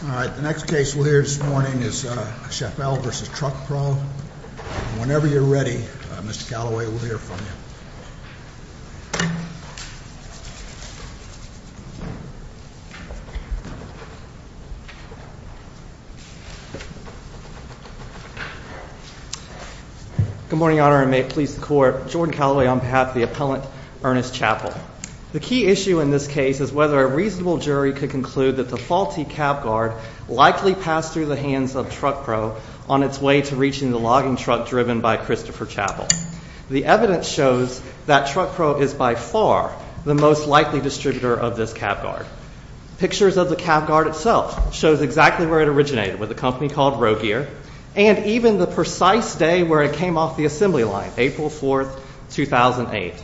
The next case we'll hear this morning is Chappell v. TruckPro. Whenever you're ready, Mr. Callaway, we'll hear from you. Good morning, Your Honor, and may it please the Court. Jordan Callaway on behalf of the appellant, Ernest Chappell. The key issue in this case is whether a reasonable jury could conclude that the faulty cab guard likely passed through the hands of TruckPro on its way to reaching the logging truck driven by Christopher Chappell. The evidence shows that TruckPro is by far the most likely distributor of this cab guard. Pictures of the cab guard itself show exactly where it originated, with a company called Rogear, and even the precise day where it came off the assembly line, April 4, 2008.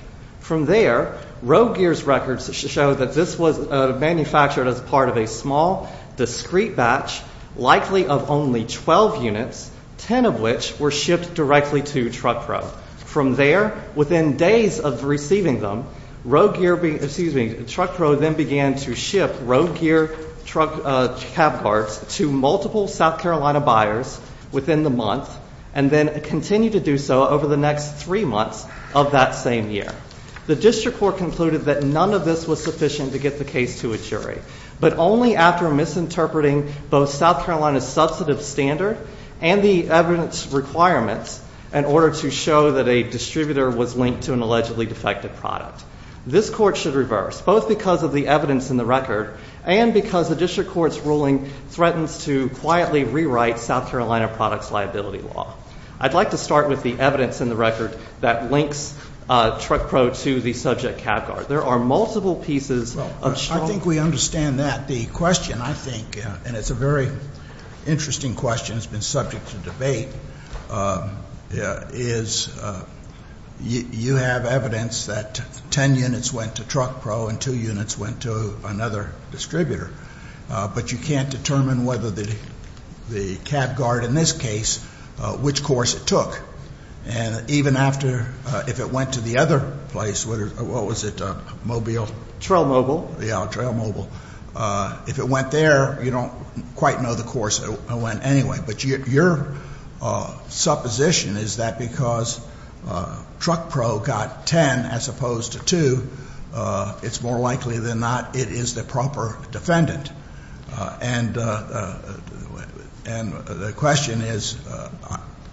From there, Rogear's records show that this was manufactured as part of a small, discrete batch, likely of only 12 units, 10 of which were shipped directly to TruckPro. From there, within days of receiving them, Rogear, excuse me, TruckPro then began to ship Rogear cab guards to multiple South Carolina buyers within the month, and then continued to do so over the next three months of that same year. The district court concluded that none of this was sufficient to get the case to a jury, but only after misinterpreting both South Carolina's substantive standard and the evidence requirements in order to show that a distributor was linked to an allegedly defective product. This court should reverse, both because of the evidence in the record and because the district court's ruling threatens to quietly rewrite South Carolina products liability law. I'd like to start with the evidence in the record that links TruckPro to the subject cab guard. There are multiple pieces of strong evidence. I think we understand that. The question, I think, and it's a very interesting question that's been subject to debate, is you have evidence that 10 units went to TruckPro and two units went to another distributor, but you can't determine whether the cab guard in this case, which course it took. And even after, if it went to the other place, what was it, Mobile? TrailMobile. Yeah, TrailMobile. If it went there, you don't quite know the course it went anyway. But your supposition is that because TruckPro got 10 as opposed to two, it's more likely than not it is the proper defendant. And the question is,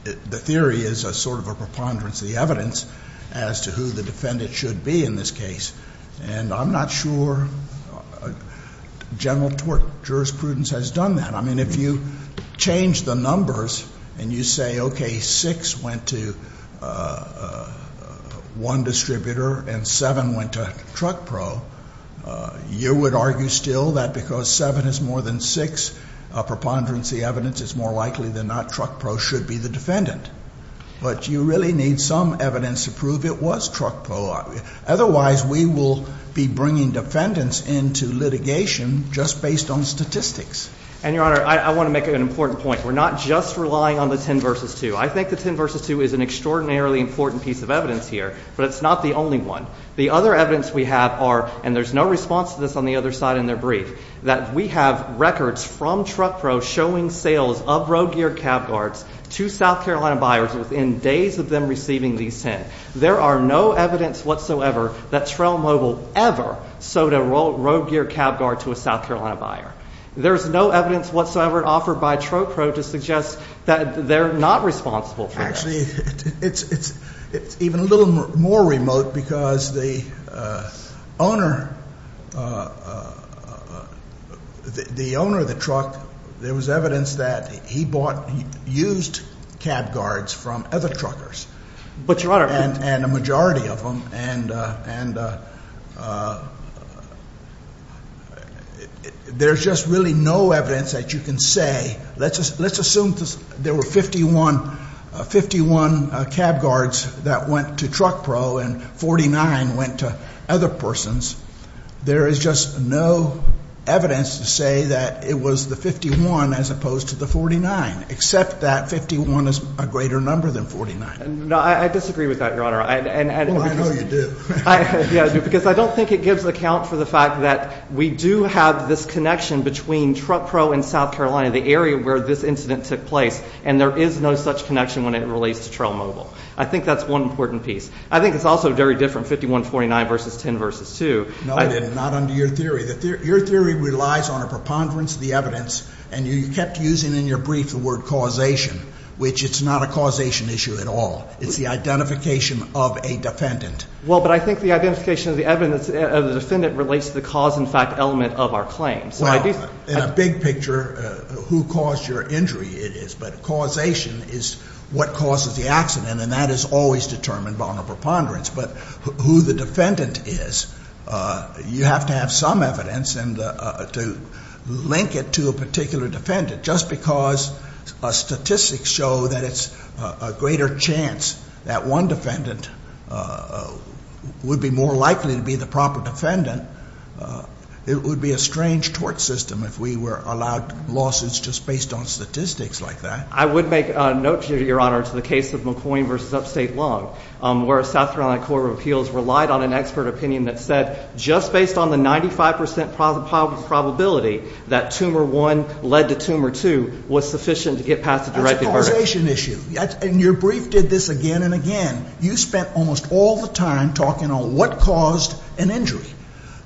the theory is sort of a preponderance of the evidence as to who the defendant should be in this case. And I'm not sure general jurisprudence has done that. I mean, if you change the numbers and you say, okay, six went to one distributor and seven went to TruckPro, you would argue still that because seven is more than six, a preponderance of the evidence is more likely than not TruckPro should be the defendant. But you really need some evidence to prove it was TruckPro. Otherwise we will be bringing defendants into litigation just based on statistics. And, Your Honor, I want to make an important point. We're not just relying on the 10 versus 2. I think the 10 versus 2 is an extraordinarily important piece of evidence here, but it's not the only one. The other evidence we have are, and there's no response to this on the other side in their brief, that we have records from TruckPro showing sales of road gear cab guards to South Carolina buyers within days of them receiving these 10. There are no evidence whatsoever that TrailMobile ever sold a road gear cab guard to a South Carolina buyer. There's no evidence whatsoever offered by TruckPro to suggest that they're not responsible for this. Actually, it's even a little more remote because the owner of the truck, there was evidence that he bought used cab guards from other truckers. But, Your Honor. And a majority of them. There's just really no evidence that you can say. Let's assume there were 51 cab guards that went to TruckPro and 49 went to other persons. There is just no evidence to say that it was the 51 as opposed to the 49, except that 51 is a greater number than 49. No, I disagree with that, Your Honor. Well, I know you do. Because I don't think it gives account for the fact that we do have this connection between TruckPro and South Carolina, the area where this incident took place, and there is no such connection when it relates to TrailMobile. I think that's one important piece. I think it's also very different, 51, 49 versus 10 versus 2. No, it is not under your theory. Your theory relies on a preponderance of the evidence, and you kept using in your brief the word causation, which it's not a causation issue at all. It's the identification of a defendant. Well, but I think the identification of the evidence of the defendant relates to the cause and fact element of our claim. Well, in a big picture, who caused your injury it is. But causation is what causes the accident, and that is always determined by a preponderance. But who the defendant is, you have to have some evidence to link it to a particular defendant. Just because statistics show that it's a greater chance that one defendant would be more likely to be the proper defendant, it would be a strange tort system if we were allowed lawsuits just based on statistics like that. I would make a note to you, Your Honor, to the case of McCoy v. Upstate Lung, where a South Carolina court of appeals relied on an expert opinion that said just based on the 95 percent probability that tumor one led to tumor two was sufficient to get past the directed verdict. That's a causation issue, and your brief did this again and again. You spent almost all the time talking on what caused an injury.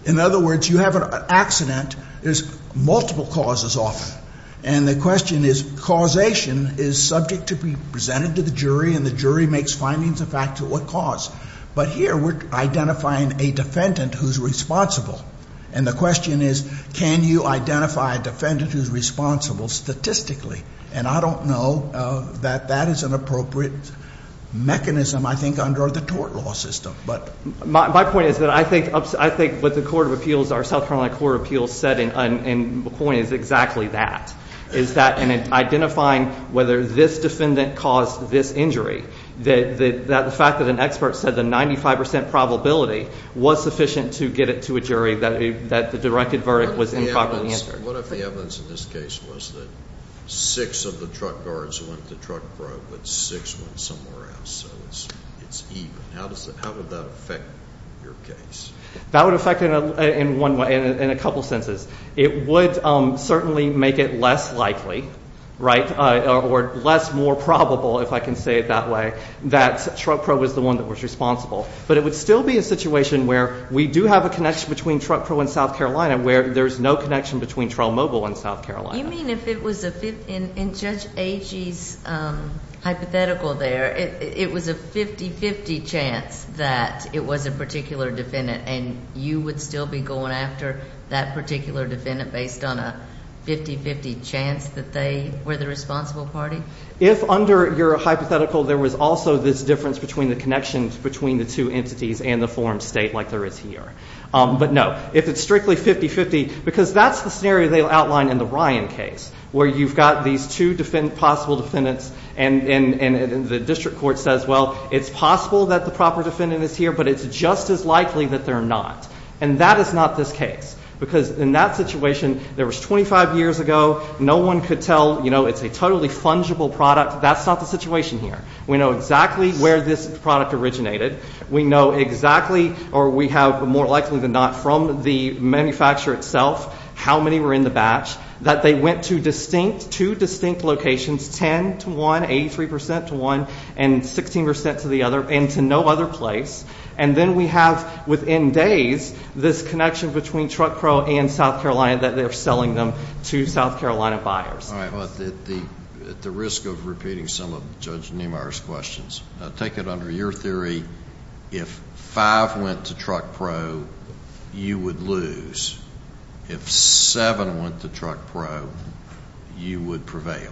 In other words, you have an accident. There's multiple causes often, and the question is causation is subject to be presented to the jury, and the jury makes findings and facts of what caused. But here we're identifying a defendant who's responsible, and the question is can you identify a defendant who's responsible statistically? And I don't know that that is an appropriate mechanism, I think, under the tort law system. My point is that I think what the court of appeals, our South Carolina court of appeals, said in McCoy is exactly that, is that in identifying whether this defendant caused this injury, the fact that an expert said the 95 percent probability was sufficient to get it to a jury, that the directed verdict was improperly answered. What if the evidence in this case was that six of the truck guards went to the truck probe, but six went somewhere else, so it's even? How would that affect your case? That would affect it in a couple senses. It would certainly make it less likely, right, or less more probable, if I can say it that way, that truck probe was the one that was responsible. But it would still be a situation where we do have a connection between truck probe and South Carolina where there's no connection between trial mobile and South Carolina. You mean if it was a 50%? In Judge Agee's hypothetical there, it was a 50-50 chance that it was a particular defendant, and you would still be going after that particular defendant based on a 50-50 chance that they were the responsible party? If under your hypothetical there was also this difference between the connections between the two entities and the forum state like there is here. But no, if it's strictly 50-50, because that's the scenario they'll outline in the Ryan case, where you've got these two possible defendants, and the district court says, well, it's possible that the proper defendant is here, but it's just as likely that they're not. And that is not this case, because in that situation, there was 25 years ago, no one could tell, you know, it's a totally fungible product. That's not the situation here. We know exactly where this product originated. We know exactly, or we have more likely than not from the manufacturer itself how many were in the batch, that they went to distinct, two distinct locations, 10 to one, 83% to one, and 16% to the other, and to no other place. And then we have, within days, this connection between TruckPro and South Carolina that they're selling them to South Carolina buyers. All right. But at the risk of repeating some of Judge Niemeyer's questions, take it under your theory if five went to TruckPro, you would lose. If seven went to TruckPro, you would prevail.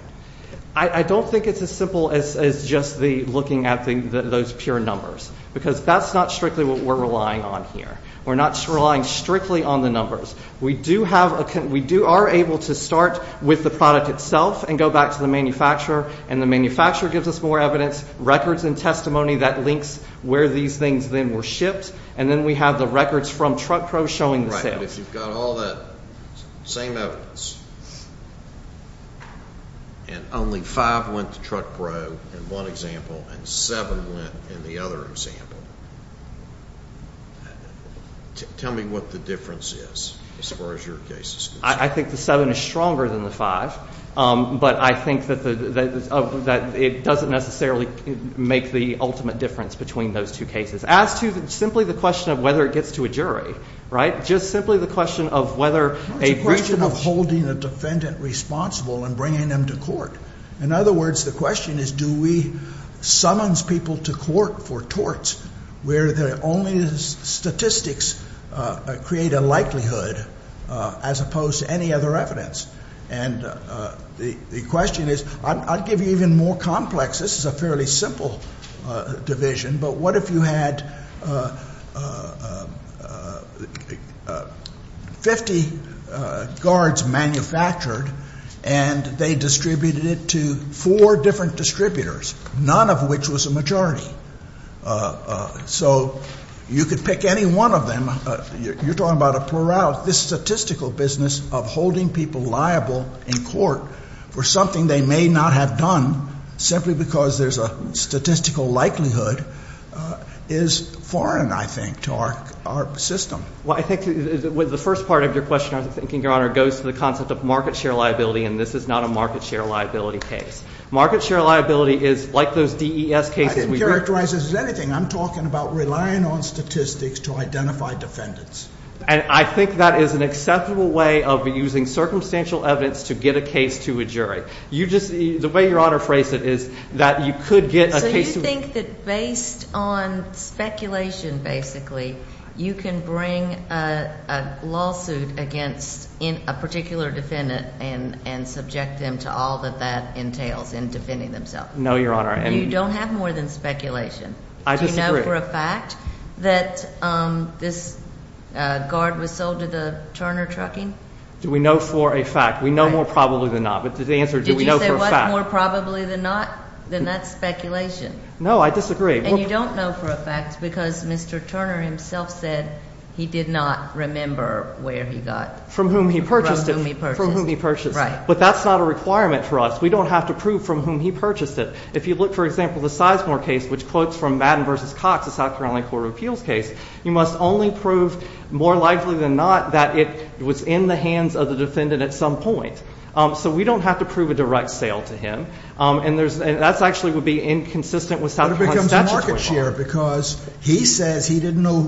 I don't think it's as simple as just looking at those pure numbers, because that's not strictly what we're relying on here. We're not relying strictly on the numbers. We do have a, we are able to start with the product itself and go back to the manufacturer, and the manufacturer gives us more evidence, records and testimony that links where these things then were shipped, and then we have the records from TruckPro showing the sales. All right. If you've got all that same evidence, and only five went to TruckPro in one example, and seven went in the other example, tell me what the difference is as far as your case is concerned. I think the seven is stronger than the five, but I think that it doesn't necessarily make the ultimate difference between those two cases. As to simply the question of whether it gets to a jury, right, just simply the question of whether a region of- Well, it's a question of holding the defendant responsible and bringing them to court. In other words, the question is do we summon people to court for torts, where the only statistics create a likelihood as opposed to any other evidence. And the question is, I'll give you even more complex, this is a fairly simple division, but what if you had 50 guards manufactured and they distributed it to four different distributors, none of which was a majority. So you could pick any one of them. You're talking about a plurality. This statistical business of holding people liable in court for something they may not have done simply because there's a statistical likelihood is foreign, I think, to our system. Well, I think the first part of your question, I'm thinking, Your Honor, goes to the concept of market share liability, and this is not a market share liability case. Market share liability is like those DES cases- I didn't characterize this as anything. I'm talking about relying on statistics to identify defendants. And I think that is an acceptable way of using circumstantial evidence to get a case to a jury. The way Your Honor phrased it is that you could get a case- So you think that based on speculation, basically, you can bring a lawsuit against a particular defendant and subject them to all that that entails in defending themselves? No, Your Honor. You don't have more than speculation. I disagree. Do you know for a fact that this guard was sold to the Turner Trucking? Do we know for a fact? We know more probably than not. But the answer is do we know for a fact? Did you say what? More probably than not? Then that's speculation. No, I disagree. And you don't know for a fact because Mr. Turner himself said he did not remember where he got- From whom he purchased it. From whom he purchased it. Right. But that's not a requirement for us. We don't have to prove from whom he purchased it. If you look, for example, the Sizemore case, which quotes from Madden v. Cox, the South Carolina Court of Appeals case, you must only prove more likely than not that it was in the hands of the defendant at some point. So we don't have to prove a direct sale to him. And that actually would be inconsistent with South Carolina statutory law. But it becomes a market share because he says he didn't know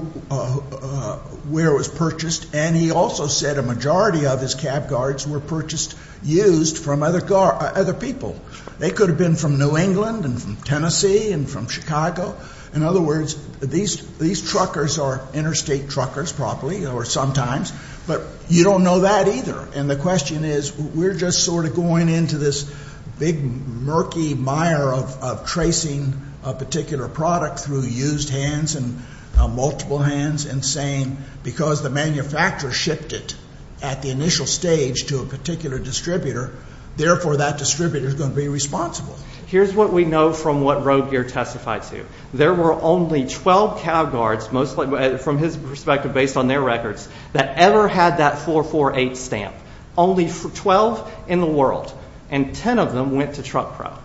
where it was purchased, and he also said a majority of his cab guards were purchased used from other people. They could have been from New England and from Tennessee and from Chicago. In other words, these truckers are interstate truckers probably or sometimes, but you don't know that either. And the question is, we're just sort of going into this big murky mire of tracing a particular product through used hands and multiple hands and saying because the manufacturer shipped it at the initial stage to a particular distributor, therefore that distributor is going to be responsible. Here's what we know from what Rodegeer testified to. There were only 12 cab guards, mostly from his perspective based on their records, that ever had that 448 stamp. Only 12 in the world. And 10 of them went to TruckPro.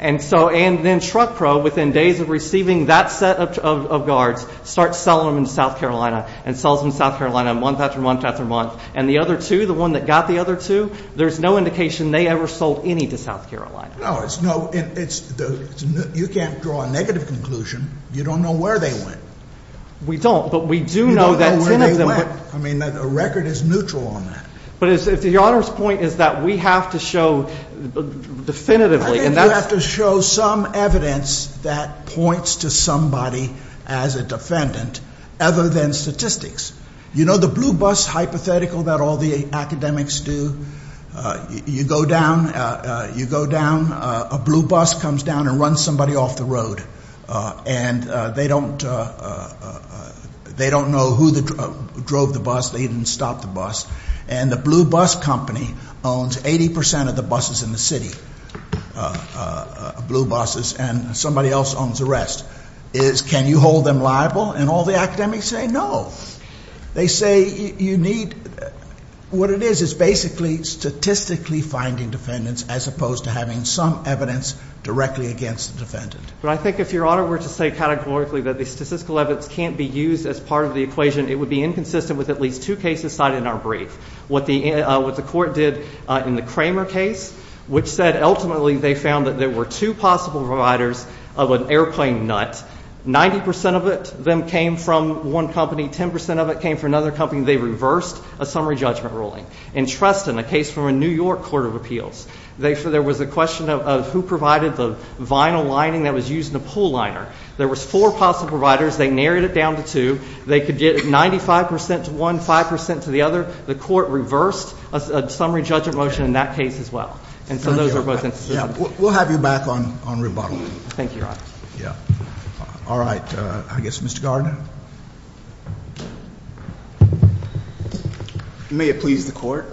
And so then TruckPro, within days of receiving that set of guards, starts selling them in South Carolina and sells them in South Carolina month after month after month. And the other two, the one that got the other two, there's no indication they ever sold any to South Carolina. No, it's no, you can't draw a negative conclusion. You don't know where they went. We don't, but we do know that 10 of them went. I mean, a record is neutral on that. But the Honor's point is that we have to show definitively. I think we have to show some evidence that points to somebody as a defendant other than statistics. You know the blue bus hypothetical that all the academics do? You go down, a blue bus comes down and runs somebody off the road. And they don't know who drove the bus. They didn't stop the bus. And the blue bus company owns 80% of the buses in the city, blue buses. And somebody else owns the rest. Can you hold them liable? And all the academics say no. They say you need, what it is, is basically statistically finding defendants as opposed to having some evidence directly against the defendant. But I think if Your Honor were to say categorically that the statistical evidence can't be used as part of the equation, it would be inconsistent with at least two cases cited in our brief. What the court did in the Kramer case, which said ultimately they found that there were two possible providers of an airplane nut. 90% of it then came from one company, 10% of it came from another company. They reversed a summary judgment ruling. In Treston, a case from a New York court of appeals, there was a question of who provided the vinyl lining that was used in a pool liner. There was four possible providers. They narrowed it down to two. They could get 95% to one, 5% to the other. The court reversed a summary judgment motion in that case as well. And so those are both inconsistent. We'll have you back on rebuttal. Thank you, Your Honor. All right. I guess Mr. Gardner. May it please the court.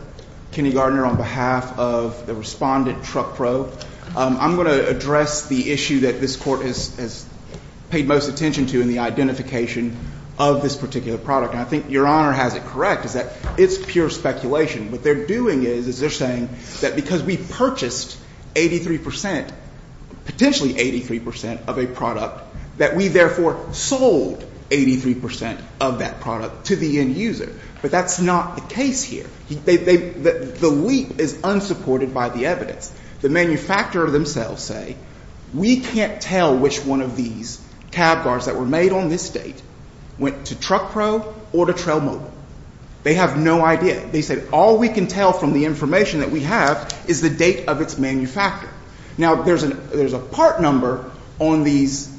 Kenny Gardner on behalf of the respondent, TruckPro. I'm going to address the issue that this court has paid most attention to in the identification of this particular product. And I think Your Honor has it correct, is that it's pure speculation. What they're doing is they're saying that because we purchased 83%, potentially 83% of a product, that we therefore sold 83% of that product to the end user. But that's not the case here. The leap is unsupported by the evidence. The manufacturer themselves say we can't tell which one of these cab cars that were made on this date went to TruckPro or to TrailMobile. They have no idea. They say all we can tell from the information that we have is the date of its manufacture. Now, there's a part number on these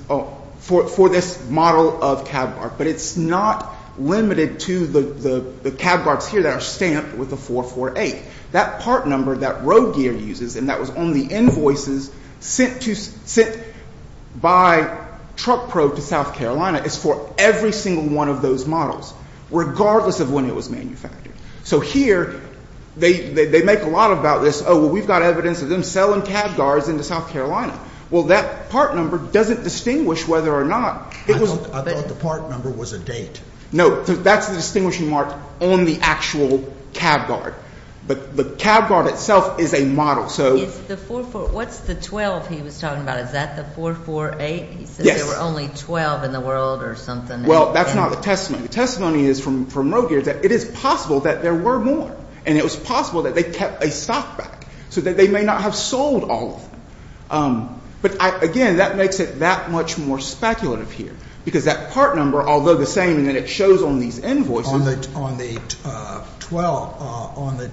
for this model of cab car, but it's not limited to the cab cars here that are stamped with a 448. That part number that RoadGear uses and that was on the invoices sent by TruckPro to South Carolina is for every single one of those models, regardless of when it was manufactured. So here they make a lot about this. Oh, well, we've got evidence of them selling cab cars into South Carolina. Well, that part number doesn't distinguish whether or not it was. I thought the part number was a date. No, that's the distinguishing mark on the actual cab car. But the cab car itself is a model, so. It's the 448. What's the 12 he was talking about? Is that the 448? Yes. He said there were only 12 in the world or something. Well, that's not the testimony. The testimony is from RoadGear that it is possible that there were more, and it was possible that they kept a stock back so that they may not have sold all of them. But, again, that makes it that much more speculative here because that part number, although the same as it shows on these invoices. On the 12, on the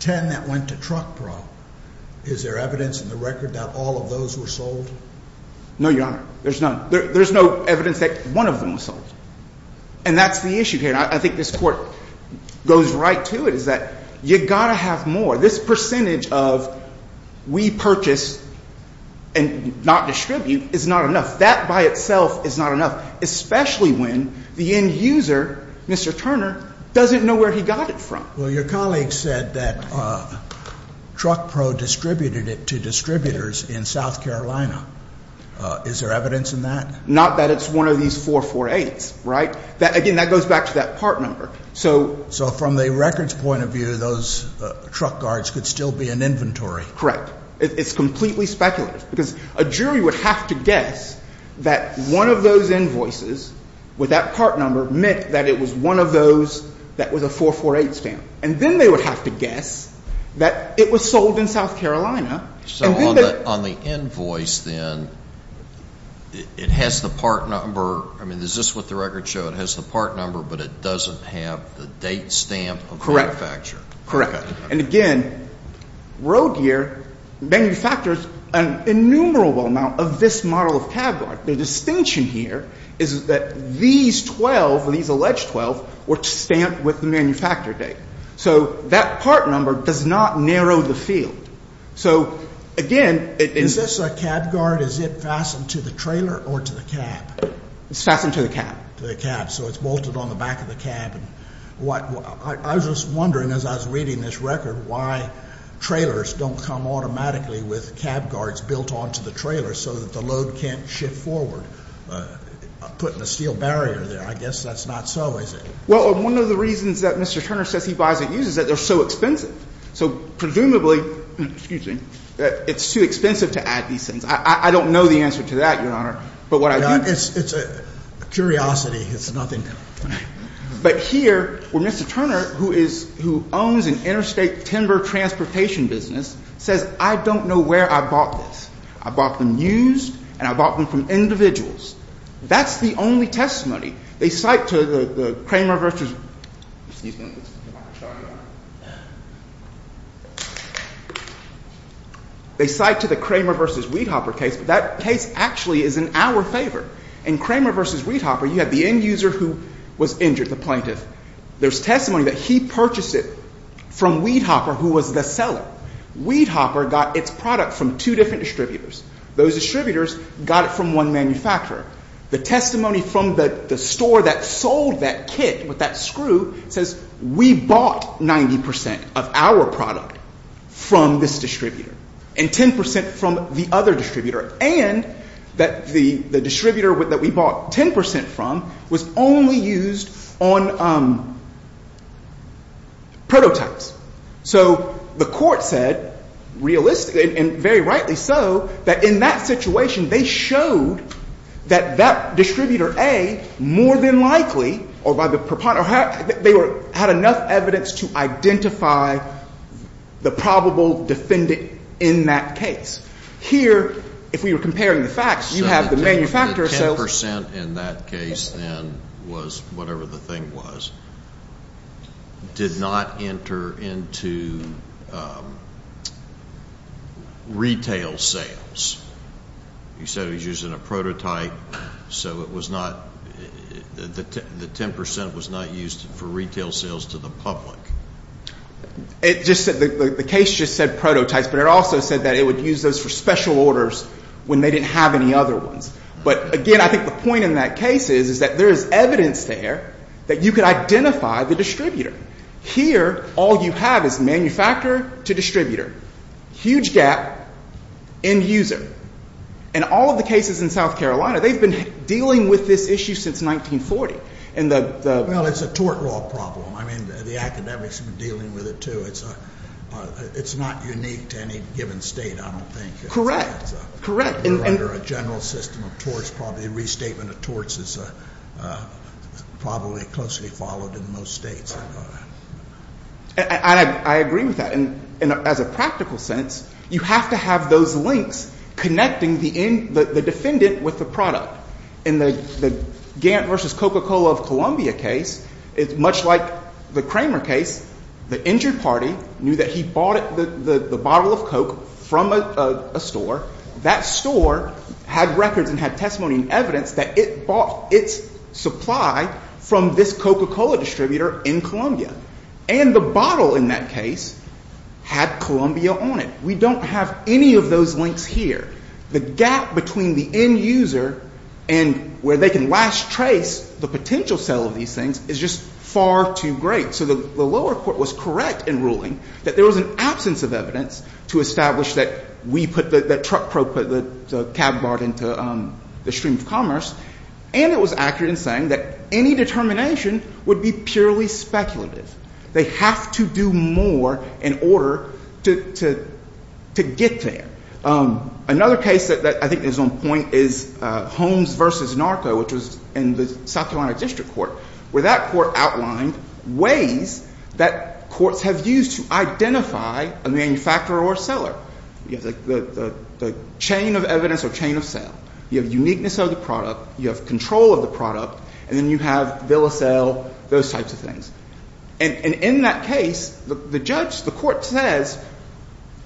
10 that went to TruckPro, is there evidence in the record that all of those were sold? No, Your Honor. There's none. There's no evidence that one of them was sold. And that's the issue here, and I think this Court goes right to it, is that you've got to have more. This percentage of we purchase and not distribute is not enough. That by itself is not enough, especially when the end user, Mr. Turner, doesn't know where he got it from. Well, your colleague said that TruckPro distributed it to distributors in South Carolina. Is there evidence in that? Not that it's one of these 448s, right? Again, that goes back to that part number. So from the record's point of view, those truck guards could still be an inventory. Correct. It's completely speculative because a jury would have to guess that one of those invoices with that part number meant that it was one of those that was a 448 stamp. And then they would have to guess that it was sold in South Carolina. So on the invoice, then, it has the part number. I mean, is this what the records show? It has the part number, but it doesn't have the date stamp of the manufacturer. Correct. And again, Road Gear manufactures an innumerable amount of this model of tab guard. The distinction here is that these 12, these alleged 12, were stamped with the manufacturer date. So that part number does not narrow the field. So, again, is this a cab guard? Is it fastened to the trailer or to the cab? It's fastened to the cab. To the cab. So it's bolted on the back of the cab. I was just wondering as I was reading this record why trailers don't come automatically with cab guards built onto the trailer so that the load can't shift forward. I'm putting a steel barrier there. I guess that's not so, is it? Well, one of the reasons that Mr. Turner says he buys and uses it, they're so expensive. So, presumably, excuse me, it's too expensive to add these things. I don't know the answer to that, Your Honor. But what I do know. It's a curiosity. It's nothing. But here, where Mr. Turner, who owns an interstate timber transportation business, says, I don't know where I bought this. I bought them used and I bought them from individuals. That's the only testimony. They cite to the Kramer v. Weedhopper case, but that case actually is in our favor. In Kramer v. Weedhopper, you have the end user who was injured, the plaintiff. There's testimony that he purchased it from Weedhopper, who was the seller. Weedhopper got its product from two different distributors. Those distributors got it from one manufacturer. The testimony from the store that sold that kit with that screw says we bought 90 percent of our product from this distributor and 10 percent from the other distributor, and that the distributor that we bought 10 percent from was only used on prototypes. So the court said, realistically, and very rightly so, that in that situation, they showed that that distributor, A, more than likely, or by the proponent, they had enough evidence to identify the probable defendant in that case. Here, if we were comparing the facts, you have the manufacturer. The 10 percent in that case, then, was whatever the thing was, did not enter into retail sales. You said it was used in a prototype, so it was not the 10 percent was not used for retail sales to the public. It just said the case just said prototypes, but it also said that it would use those for special orders when they didn't have any other ones. But, again, I think the point in that case is that there is evidence there that you could identify the distributor. Here, all you have is manufacturer to distributor, huge gap, end user. In all of the cases in South Carolina, they've been dealing with this issue since 1940. Well, it's a tort law problem. I mean, the academics have been dealing with it, too. It's not unique to any given state, I don't think. We're under a general system of torts. Probably a restatement of torts is probably closely followed in most states. I agree with that. And as a practical sense, you have to have those links connecting the defendant with the product. In the Gantt versus Coca-Cola of Columbia case, it's much like the Kramer case. The injured party knew that he bought the bottle of Coke from a store. That store had records and had testimony and evidence that it bought its supply from this Coca-Cola distributor in Columbia. And the bottle in that case had Columbia on it. We don't have any of those links here. The gap between the end user and where they can last trace the potential sale of these things is just far too great. So the lower court was correct in ruling that there was an absence of evidence to establish that we put the truck probe, put the cab barge into the stream of commerce. And it was accurate in saying that any determination would be purely speculative. They have to do more in order to get there. Another case that I think is on point is Holmes versus Narco, which was in the South Carolina District Court, where that court outlined ways that courts have used to identify a manufacturer or a seller. You have the chain of evidence or chain of sale. You have uniqueness of the product. You have control of the product. And then you have bill of sale, those types of things. And in that case, the judge, the court says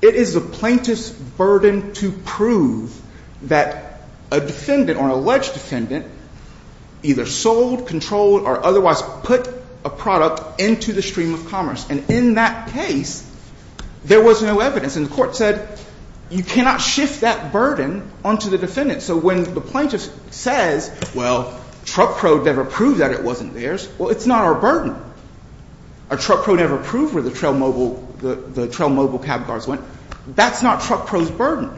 it is the plaintiff's burden to prove that a defendant or alleged defendant either sold, controlled, or otherwise put a product into the stream of commerce. And in that case, there was no evidence. And the court said you cannot shift that burden onto the defendant. So when the plaintiff says, well, truck probe never proved that it wasn't theirs, well, it's not our burden. A truck probe never proved where the Trail Mobile cab cars went. That's not truck probe's burden.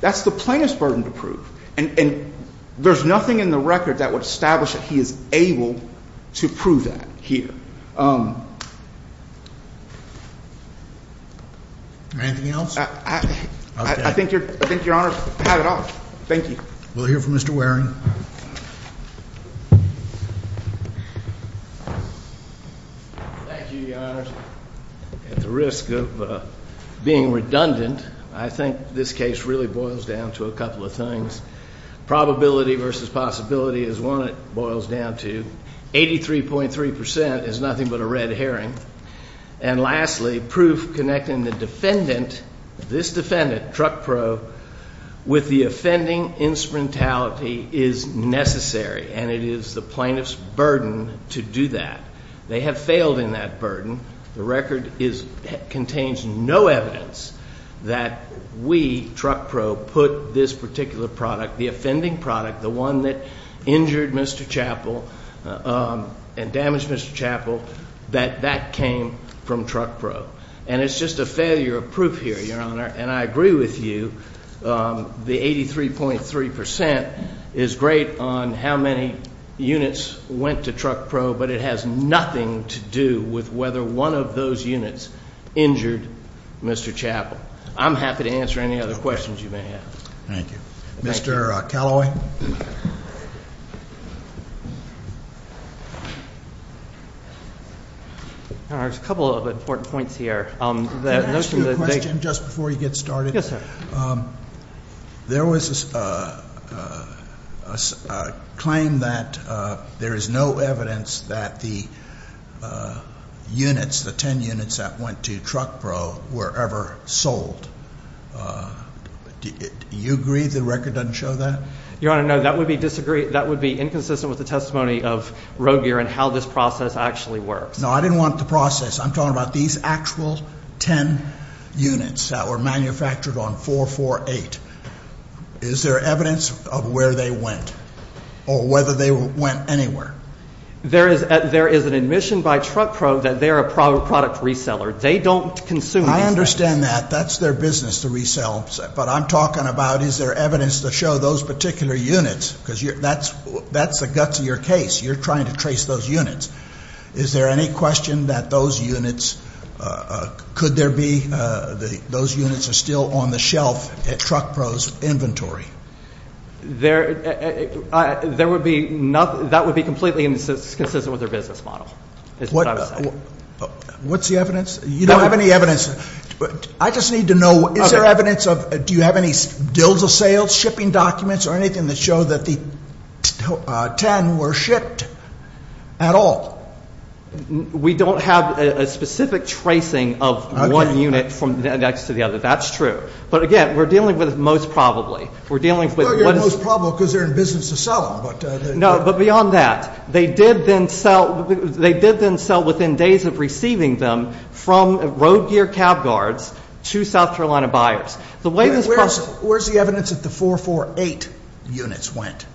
That's the plaintiff's burden to prove. And there's nothing in the record that would establish that he is able to prove that here. Anything else? Okay. I think Your Honor had it all. Thank you. We'll hear from Mr. Waring. Thank you, Your Honor. At the risk of being redundant, I think this case really boils down to a couple of things. Probability versus possibility is one it boils down to. 83.3% is nothing but a red herring. And lastly, proof connecting the defendant, this defendant, truck probe, with the offending instrumentality is necessary. And it is the plaintiff's burden to do that. They have failed in that burden. The record contains no evidence that we, truck probe, put this particular product, the offending product, the one that injured Mr. Chappell and damaged Mr. Chappell, that that came from truck probe. And it's just a failure of proof here, Your Honor. And I agree with you, the 83.3% is great on how many units went to truck probe, but it has nothing to do with whether one of those units injured Mr. Chappell. I'm happy to answer any other questions you may have. Thank you. Mr. Calloway. There's a couple of important points here. Can I ask you a question just before you get started? Yes, sir. There was a claim that there is no evidence that the units, the 10 units that went to truck probe, were ever sold. Do you agree the record doesn't show that? Your Honor, no. That would be inconsistent with the testimony of Road Gear and how this process actually works. No, I didn't want the process. I'm talking about these actual 10 units that were manufactured on 448. Is there evidence of where they went or whether they went anywhere? There is an admission by truck probe that they are a product reseller. They don't consume anything. I understand that. That's their business to resell. But I'm talking about is there evidence to show those particular units, because that's the guts of your case. You're trying to trace those units. Is there any question that those units, could there be, those units are still on the shelf at truck probe's inventory? There would be nothing, that would be completely inconsistent with their business model is what I would say. What's the evidence? You don't have any evidence. I just need to know, is there evidence of, do you have any deals of sales, shipping documents, or anything that show that the 10 were shipped at all? We don't have a specific tracing of one unit from the next to the other. That's true. But, again, we're dealing with most probably. We're dealing with what is. Well, you're most probably because they're in business to sell them. No, but beyond that. They did then sell within days of receiving them from road gear cab guards to South Carolina buyers. Where's the evidence that the 448 units went?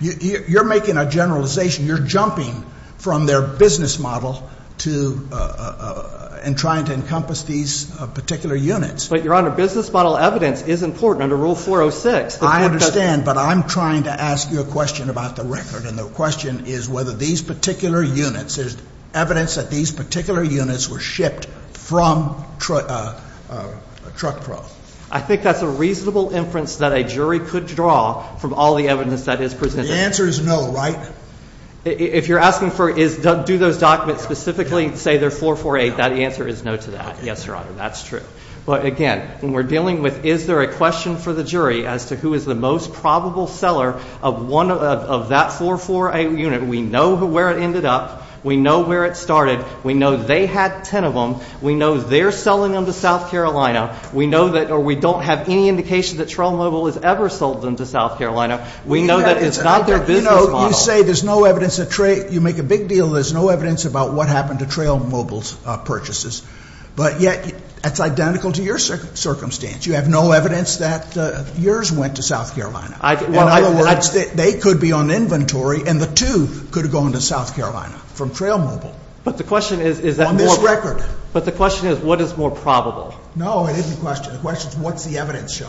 You're making a generalization. You're jumping from their business model to, and trying to encompass these particular units. But, Your Honor, business model evidence is important under Rule 406. I understand. But I'm trying to ask you a question about the record, and the question is whether these particular units, there's evidence that these particular units were shipped from a truck truck. I think that's a reasonable inference that a jury could draw from all the evidence that is presented. The answer is no, right? If you're asking for, do those documents specifically say they're 448, that answer is no to that. Yes, Your Honor, that's true. But, again, when we're dealing with is there a question for the jury as to who is the most probable seller of that 448 unit, we know where it ended up. We know where it started. We know they had 10 of them. We know they're selling them to South Carolina. We know that, or we don't have any indication that Trail Mobile has ever sold them to South Carolina. We know that it's not their business model. You know, you say there's no evidence that Trail, you make a big deal, there's no evidence about what happened to Trail Mobile's purchases. But, yet, that's identical to your circumstance. You have no evidence that yours went to South Carolina. In other words, they could be on inventory, and the two could have gone to South Carolina from Trail Mobile. But the question is, is that more probable? On this record. But the question is, what is more probable? No, it isn't a question. The question is, what's the evidence show?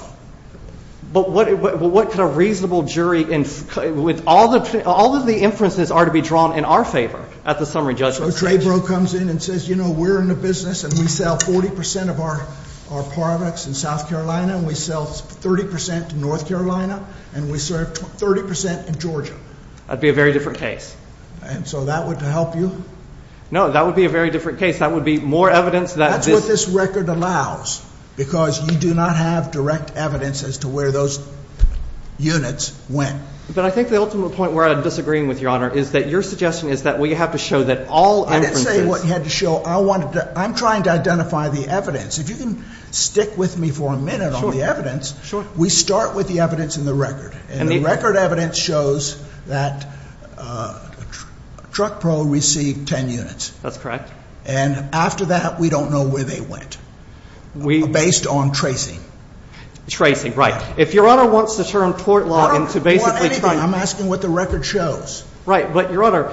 But what kind of reasonable jury, with all of the inferences are to be drawn in our favor at the summary judgment stage. So Traybro comes in and says, you know, we're in the business, and we sell 40% of our products in South Carolina, and we sell 30% to North Carolina, and we serve 30% in Georgia. That would be a very different case. And so that would help you? No, that would be a very different case. That would be more evidence that this. That's what this record allows, because you do not have direct evidence as to where those units went. But I think the ultimate point where I'm disagreeing with Your Honor is that your suggestion is that we have to show that all inferences. I didn't say what you had to show. I wanted to – I'm trying to identify the evidence. If you can stick with me for a minute on the evidence. We start with the evidence in the record. And the record evidence shows that TruckPro received 10 units. That's correct. And after that, we don't know where they went, based on tracing. Tracing, right. If Your Honor wants to turn court law into basically – I'm asking what the record shows. Right. But, Your Honor,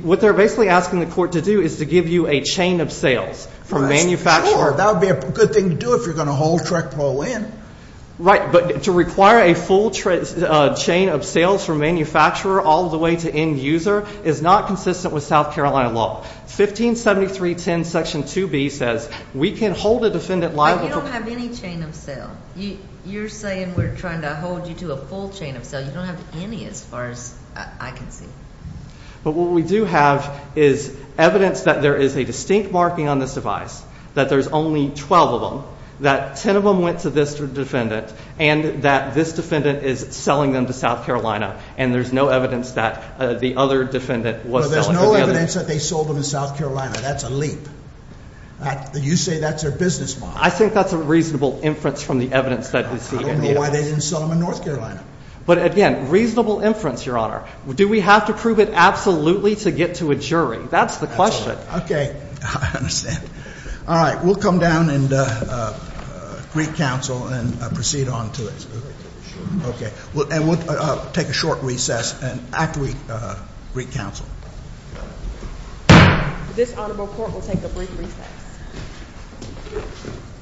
what they're basically asking the court to do is to give you a chain of sales from manufacturer. That would be a good thing to do if you're going to hold TruckPro in. Right. But to require a full chain of sales from manufacturer all the way to end user is not consistent with South Carolina law. 157310, Section 2B says we can hold a defendant liable for – But you don't have any chain of sale. Your Honor, you're saying we're trying to hold you to a full chain of sale. You don't have any as far as I can see. But what we do have is evidence that there is a distinct marking on this device, that there's only 12 of them, that 10 of them went to this defendant, and that this defendant is selling them to South Carolina. And there's no evidence that the other defendant was selling – Well, there's no evidence that they sold them to South Carolina. That's a leap. You say that's their business model. I think that's a reasonable inference from the evidence that we see in the evidence. I don't know why they didn't sell them in North Carolina. But again, reasonable inference, Your Honor. Do we have to prove it absolutely to get to a jury? That's the question. Okay. I understand. All right. We'll come down and greet counsel and proceed on to it. Okay. And we'll take a short recess after we greet counsel. This honorable court will take a brief recess. Thank you.